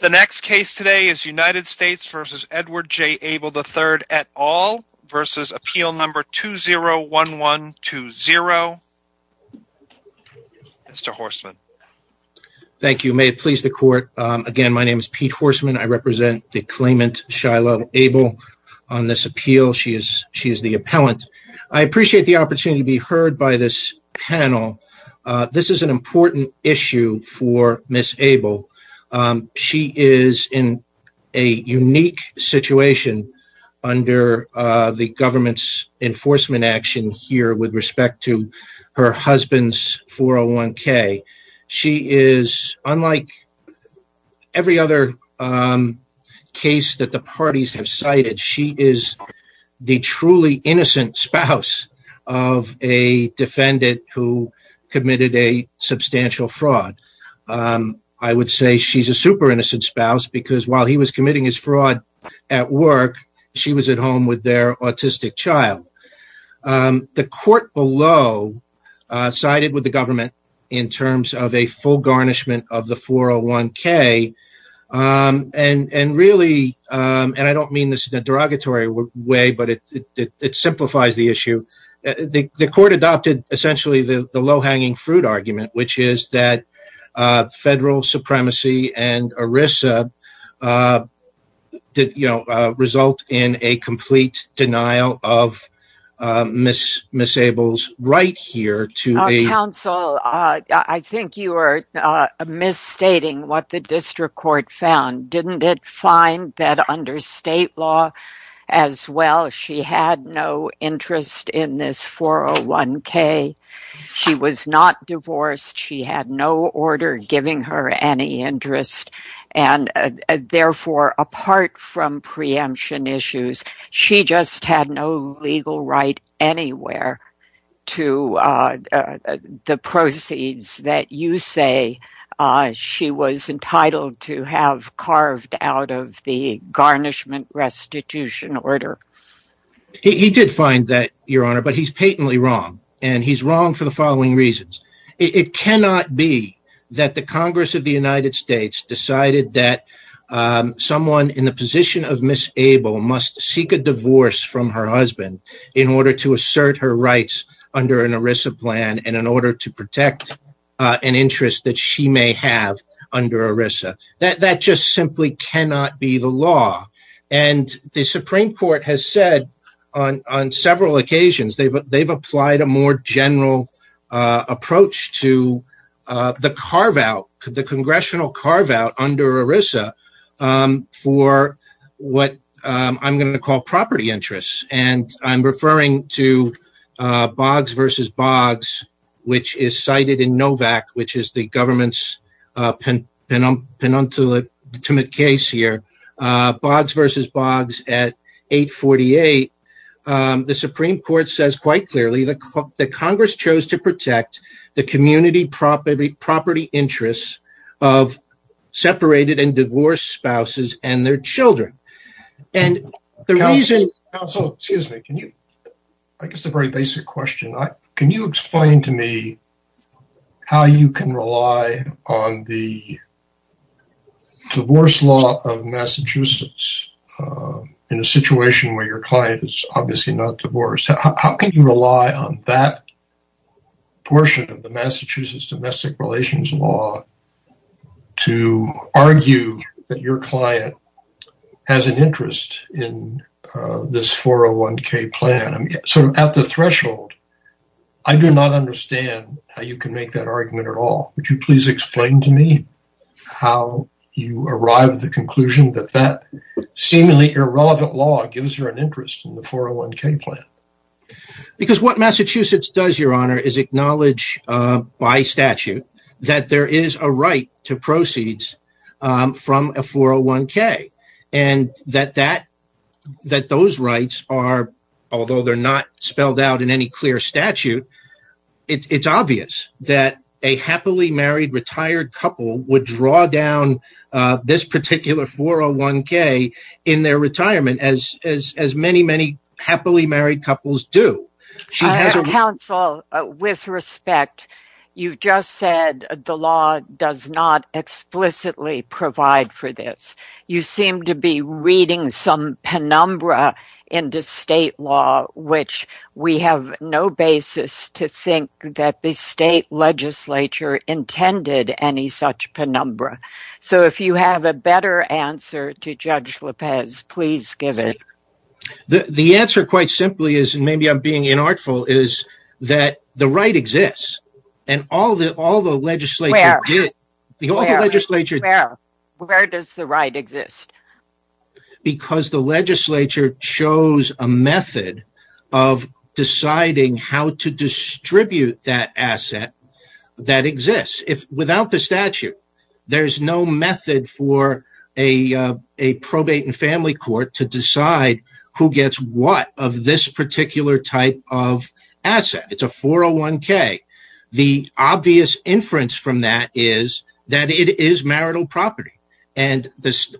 The next case today is United States v. Edward J. Abell III, et al. v. Appeal No. 201120. Mr. Horstman. Thank you. May it please the court, again, my name is Pete Horstman. I represent the claimant, Shiloh Abell, on this appeal. She is the appellant. I appreciate the opportunity to be heard by this panel. This is an important issue for Ms. Abell. She is in a unique situation under the government's enforcement action here with respect to her husband's 401k. She is, unlike every other case that the parties have cited, she is the truly innocent spouse of a defendant who committed a substantial fraud. I would say she's a super innocent spouse because while he was committing his fraud at work, she was at home with their autistic child. The court below sided with the government in terms of a full garnishment of the 401k, and really, and I don't mean this in a derogatory way, but it simplifies the issue. The court adopted essentially the low-hanging fruit argument, which is that federal supremacy and ERISA result in a complete denial of Ms. Abell's right here to be... Counsel, I think you are misstating what the district court found. Didn't it find that under state law as well, she had no interest in this 401k? She was not divorced. She had no order giving her any interest, and therefore, apart from preemption issues, she just had no legal right anywhere to the proceeds that you say she was entitled to have carved out of the garnishment restitution order. He did find that, Your Honor, but he's patently wrong, and he's wrong for the following reasons. It cannot be that the Congress of the United States decided that someone in the position of Ms. Abell must seek a divorce from her husband in order to assert her rights under an ERISA plan and in order to protect an interest that she may have under ERISA. That just simply cannot be the law, and the Supreme Court has said on several occasions they've applied a more general approach to the congressional carve-out under ERISA for what I'm going to call property interests, and I'm referring to Boggs v. Boggs, which is cited in NOVAC, which is the government's penultimate case here. Boggs v. Boggs at 848. The Supreme Court says quite clearly that Congress chose to protect the community property interests of separated and divorced spouses and their children, and the reason... Counsel, excuse me. I guess a very basic question. Can you explain to me how you can rely on the divorce law of Massachusetts in a situation where your client is obviously not divorced? How can you rely on that portion of the Massachusetts domestic relations law to argue that your client has an interest in this 401k plan? At the threshold, I do not understand how you can make that argument at all. Would you please explain to me how you arrive at the conclusion that that seemingly irrelevant law gives her an interest in the 401k plan? Because what Massachusetts does, Your Honor, is acknowledge by statute that there is a right to proceeds from a 401k, and that those rights are, although they're not spelled out in any clear statute, it's obvious that a happily married, retired couple would draw down this particular 401k in their retirement, as many, many happily married couples do. Counsel, with respect, you've just said the law does not explicitly provide for this. You seem to be reading some penumbra into state law, which we have no basis to think that the state legislature intended any such penumbra. So if you have a better answer to Judge Lopez, please give it. The answer, quite simply, and maybe I'm being inartful, is that the right exists, and all the legislature did... Where? Where does the right exist? Because the legislature chose a method of deciding how to distribute that asset that exists. Without the statute, there's no method for a probate and family court to decide who The inference from that is that it is marital property, and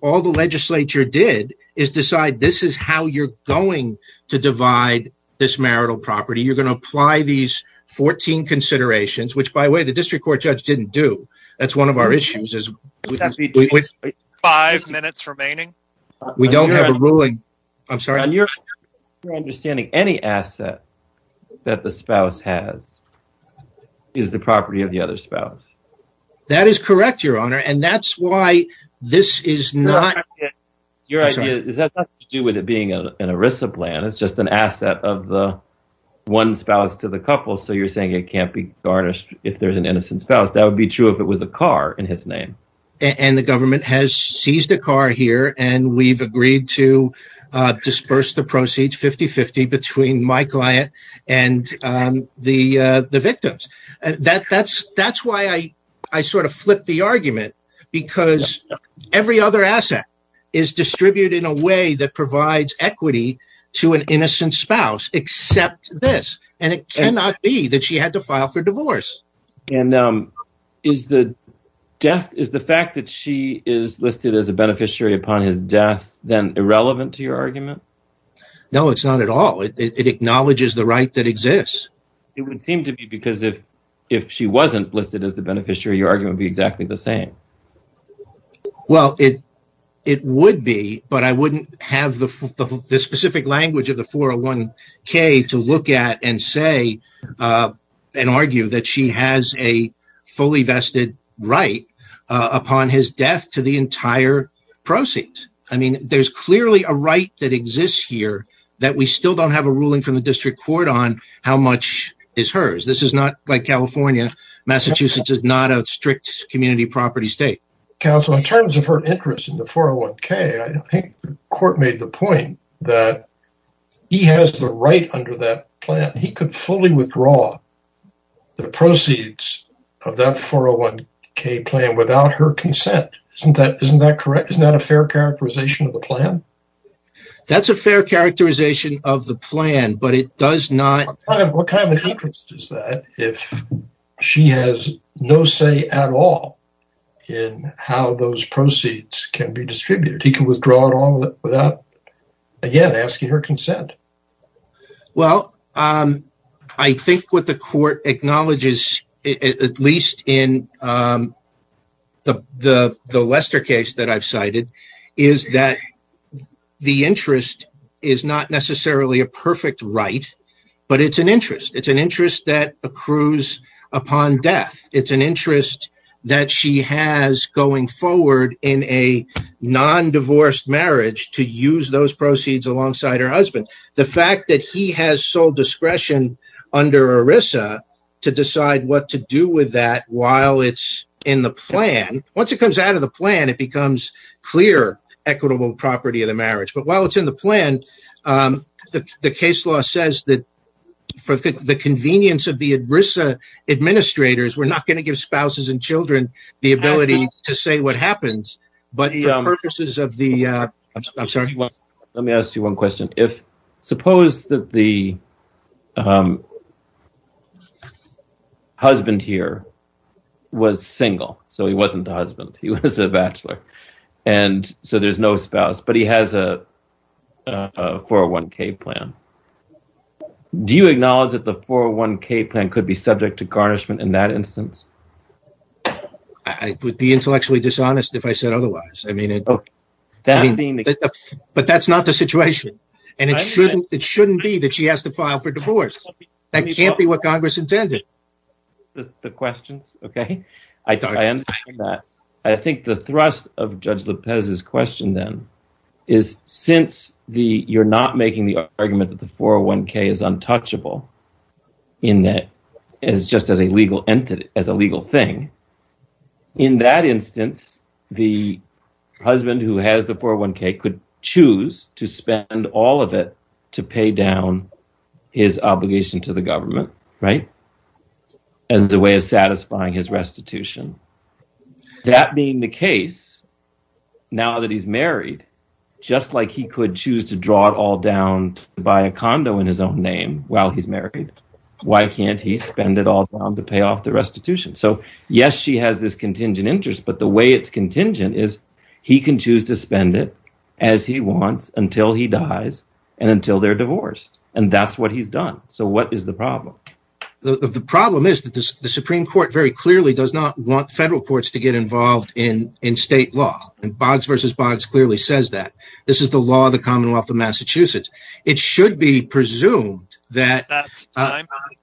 all the legislature did is decide this is how you're going to divide this marital property. You're going to apply these 14 considerations, which by the way, the district court judge didn't do. That's one of our issues, is... With five minutes remaining? We don't have a ruling. I'm sorry? Your understanding is that any asset that the spouse has is the property of the other spouse. That is correct, Your Honor, and that's why this is not... Your idea is that it has nothing to do with it being an ERISA plan. It's just an asset of the one spouse to the couple, so you're saying it can't be garnished if there's an innocent spouse. That would be true if it was a car in his name. And the government has seized a car here, and we've agreed to disperse the proceeds 50-50 between my client and the victims. That's why I sort of flipped the argument, because every other asset is distributed in a way that provides equity to an innocent spouse, except this, and it cannot be that she had to file for divorce. And is the fact that she is listed as a beneficiary upon his death then irrelevant to your argument? No, it's not at all. It acknowledges the right that exists. It would seem to be, because if she wasn't listed as the beneficiary, your argument would be exactly the same. Well, it would be, but I wouldn't have the specific language of the 401k to look at and say and argue that she has a fully vested right upon his death to the entire proceeds. I mean, there's clearly a right that exists here that we still don't have a ruling from the district court on how much is hers. This is not like California. Massachusetts is not a strict community property state. Counsel, in terms of her interest in the 401k, I think the court made the point that he has the right under that plan. He could fully withdraw the proceeds of that 401k plan without her consent. Isn't that correct? Isn't that a fair characterization of the plan? That's a fair characterization of the plan, but it does not... What kind of interest is that if she has no say at all in how those proceeds can be distributed? He can withdraw it all without, again, asking her consent. Well, I think what the court acknowledges, at least in the Lester case that I've cited, is that the interest is not necessarily a perfect right, but it's an interest. It's an interest that accrues upon death. It's an interest that she has going forward in a non-divorced marriage to use those proceeds alongside her husband. The fact that he has sole discretion under ERISA to decide what to do with that while it's in the plan... Once it comes out of the plan, it becomes clear equitable property of the marriage. But while it's in the plan, the case law says that for the convenience of the ERISA administrators, we're not going to give spouses and children the ability to say what happens, but the purposes of the... I'm sorry. Let me ask you one question. Suppose that the husband here was single, so he wasn't the husband. He was a bachelor, and so there's no spouse, but he has a 401k plan. Do you acknowledge that the 401k plan could be subject to garnishment in that instance? I would be intellectually dishonest if I didn't. But that's not the situation, and it shouldn't be that she has to file for divorce. That can't be what Congress intended. I think the thrust of Judge Lopez's question then is since you're not making the argument that the 401k is untouchable, in that it's just as a legal thing, in that instance, the husband who has the 401k could choose to spend all of it to pay down his obligation to the government as a way of satisfying his restitution. That being the case, now that he's married, just like he could choose to draw it all down to buy a condo in his own name while he's married, why can't he spend it all down to pay off the restitution? So yes, she has this contingent interest, but the way it's contingent is he can choose to spend it as he wants until he dies and until they're divorced, and that's what he's done. So what is the problem? The problem is that the Supreme Court very clearly does not want federal courts to get involved in state law, and Boggs v. Boggs clearly says that. This is the law of the Commonwealth of Massachusetts. It should be presumed that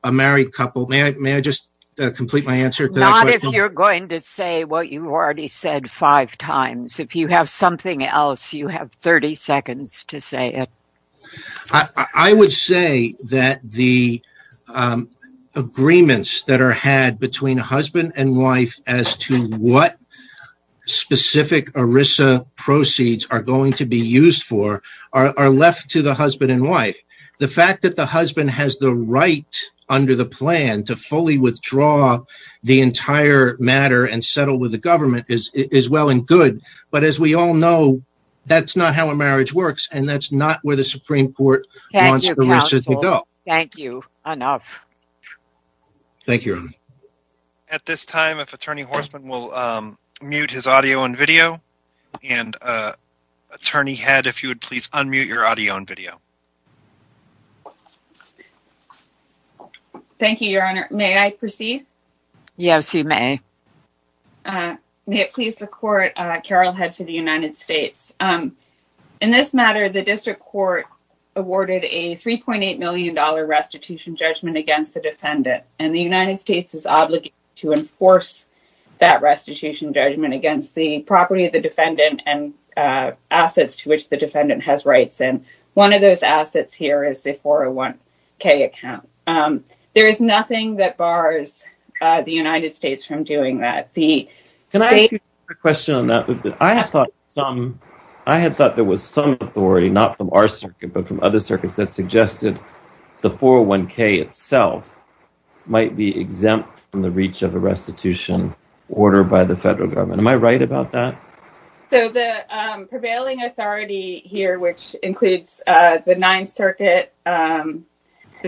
a married couple... May I just complete my answer to that question? Not if you're going to say what you already said five times. If you have something else, you have 30 seconds to say it. I would say that the agreements that are had between husband and wife as to what specific ERISA proceeds are going to be used for are left to the husband and wife. The fact that the husband has the right under the plan to fully withdraw the entire matter and settle with the government is well and good, but as we all know, that's not how a marriage works, and that's not where the Supreme Court wants to go. Thank you, counsel. Thank you enough. Thank you. At this time, if attorney head, if you would please unmute your audio and video. Thank you, your honor. May I proceed? Yes, you may. May it please the court. Carol Head for the United States. In this matter, the district court awarded a $3.8 million restitution judgment against the defendant, and the United States is to enforce that restitution judgment against the property of the defendant and assets to which the defendant has rights, and one of those assets here is a 401k account. There is nothing that bars the United States from doing that. I had thought there was some authority, not from our circuit, but from other circuits that suggested the 401k itself might be exempt from the reach of a restitution order by the federal government. Am I right about that? So, the prevailing authority here, which includes the Ninth Circuit, the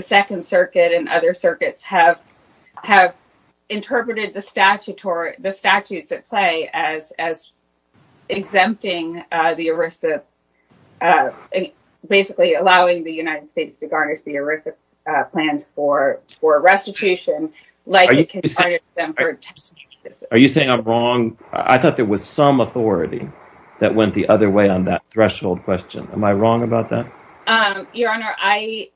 Second Circuit, and other circuits have interpreted the statutes at play as exempting the ERISA, basically allowing the United States to garnish the ERISA plans for restitution. Are you saying I'm wrong? I thought there was some authority that went the other way on that threshold question. Am I wrong about that? Your honor, I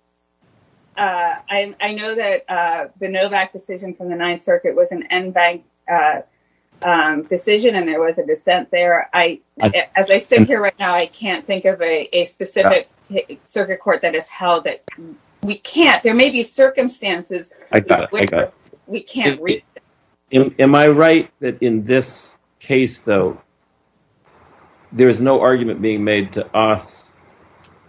know that the Novak decision from the I, as I sit here right now, I can't think of a specific circuit court that has held it. We can't. There may be circumstances. I got it. We can't read it. Am I right that in this case, though, there is no argument being made to us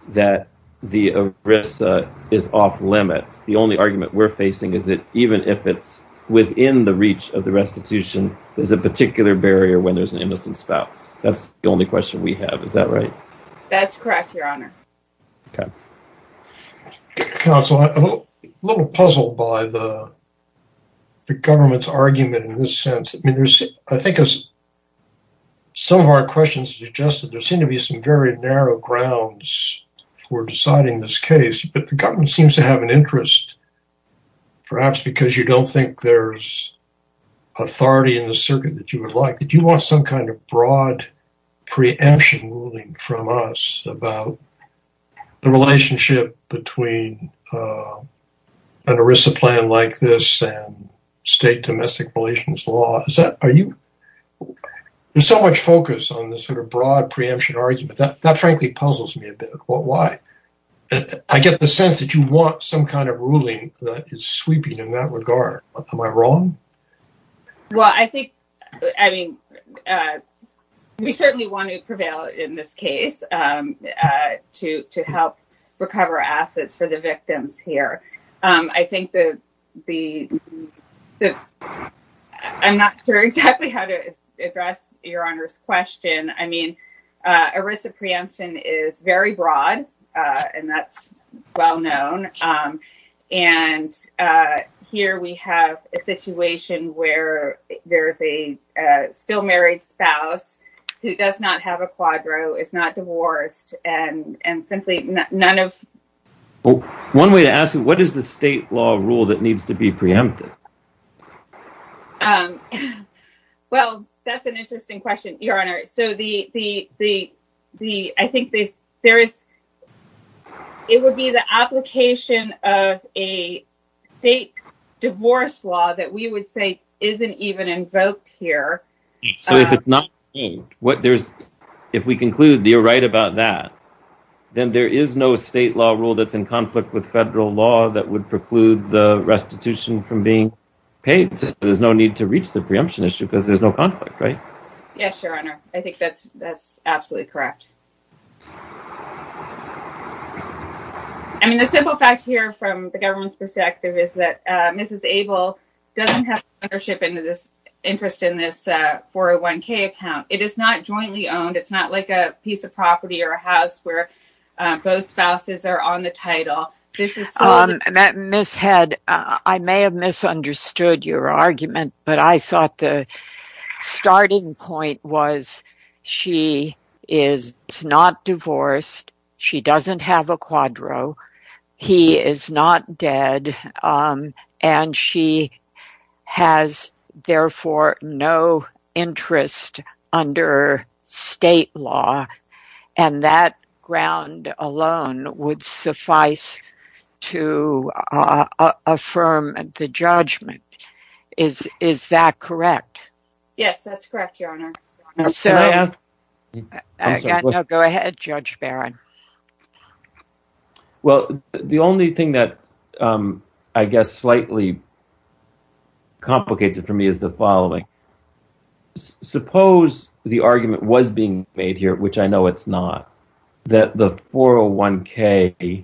that the ERISA is off limits? The only argument we're facing is that even if it's within the reach of the restitution, there's a particular barrier when there's an innocent spouse. That's the only question we have. Is that right? That's correct, your honor. Okay. Counsel, I'm a little puzzled by the government's argument in this sense. I think some of our questions suggest that there seem to be some very narrow grounds for deciding this case, but the government seems to have an interest, perhaps because you don't think there's authority in the circuit that you would like. Did you want some kind of broad preemption ruling from us about the relationship between an ERISA plan like this and state domestic relations law? There's so much focus on this sort of broad preemption argument. That frankly puzzles me a bit. Why? I get the sense that you want some kind of ruling that is sweeping in that regard. Am I wrong? We certainly want to prevail in this case to help recover assets for the victims here. I'm not sure exactly how to address your honor's I mean, ERISA preemption is very broad and that's well known. Here we have a situation where there's a still married spouse who does not have a quadro, is not divorced, and simply none of... One way to ask you, what is the state law rule that needs to be preempted? Well, that's an interesting question, your honor. I think it would be the application of a state divorce law that we would say isn't even invoked here. So if it's not changed, if we conclude you're right about that, then there is no state law rule that's in conflict with federal law that would preclude the restitution from being paid. There's no need to reach the preemption issue because there's no conflict, right? Yes, your honor. I think that's absolutely correct. I mean, the simple fact here from the government's perspective is that Mrs. Abel doesn't have ownership into this interest in this 401k account. It is not jointly owned. It's not like a piece of property or a house where both spouses are on the title. This is... Ms. Head, I may have misunderstood your argument, but I thought the starting point was she is not divorced, she doesn't have a quadro, he is not dead, and she has, therefore, no interest under state law, and that ground alone would suffice to affirm the judgment. Is that correct? Yes, that's correct, your honor. Go ahead, Judge Barron. Well, the only thing that, I guess, slightly complicates it for me is the following. Suppose the argument was being made here, which I know it's not, that the 401k,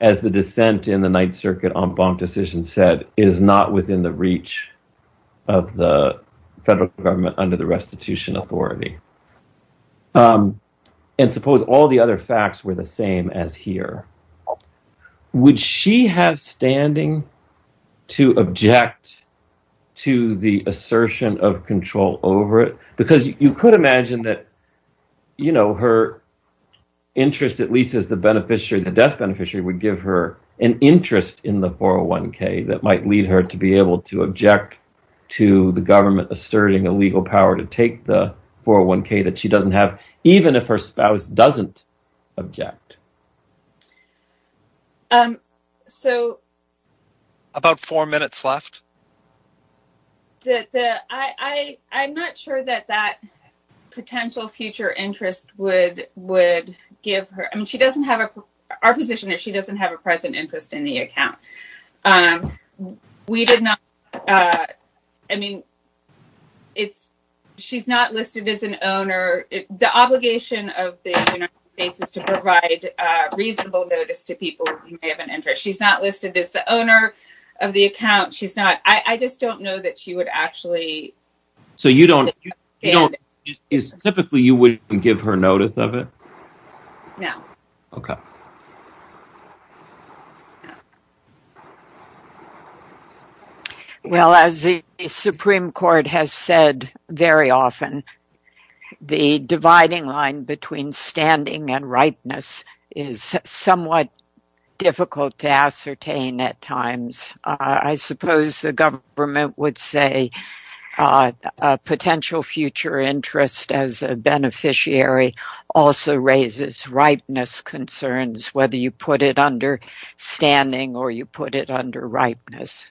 as the dissent in the Ninth Circuit en banc decision said, is not within the reach of the federal government under the restitution authority. And suppose all the other facts were the same as here. Would she have standing to object to the assertion of control over it? Because you could imagine that her interest, at least as the death beneficiary, would give her an interest in the 401k that might lead her to be able to object to the government asserting a legal power to take the 401k that she doesn't have, even if her spouse doesn't object. So, about four minutes left. I'm not sure that that potential future interest would give her, I mean, she doesn't have a, our position is she doesn't have a present interest in the account. We did not, I mean, it's, she's not listed as an owner. The obligation of the United States is to provide reasonable notice to people who may have an interest. She's not listed as the owner of the account. She's not, I just don't know that she would actually. So you don't, typically you wouldn't give her notice of it? No. Okay. Well, as the Supreme Court has said very often, the dividing line between standing and rightness is somewhat difficult to ascertain at times. I suppose the government would say a potential future interest as a beneficiary also raises rightness concerns, whether you put it under standing or you put it under rightness.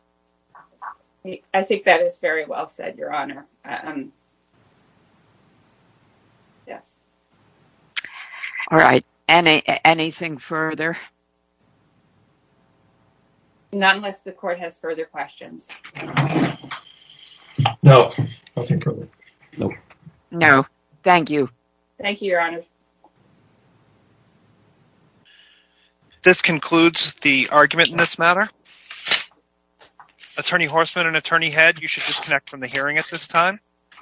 I think that is very well said, Your Honor. Yes. All right. Any, anything further? Not unless the court has further questions. No, nothing further. No, thank you. Thank you, Your Honor. This concludes the argument in this matter. Attorney Horstman and Attorney Head, you should disconnect from the hearing at this time.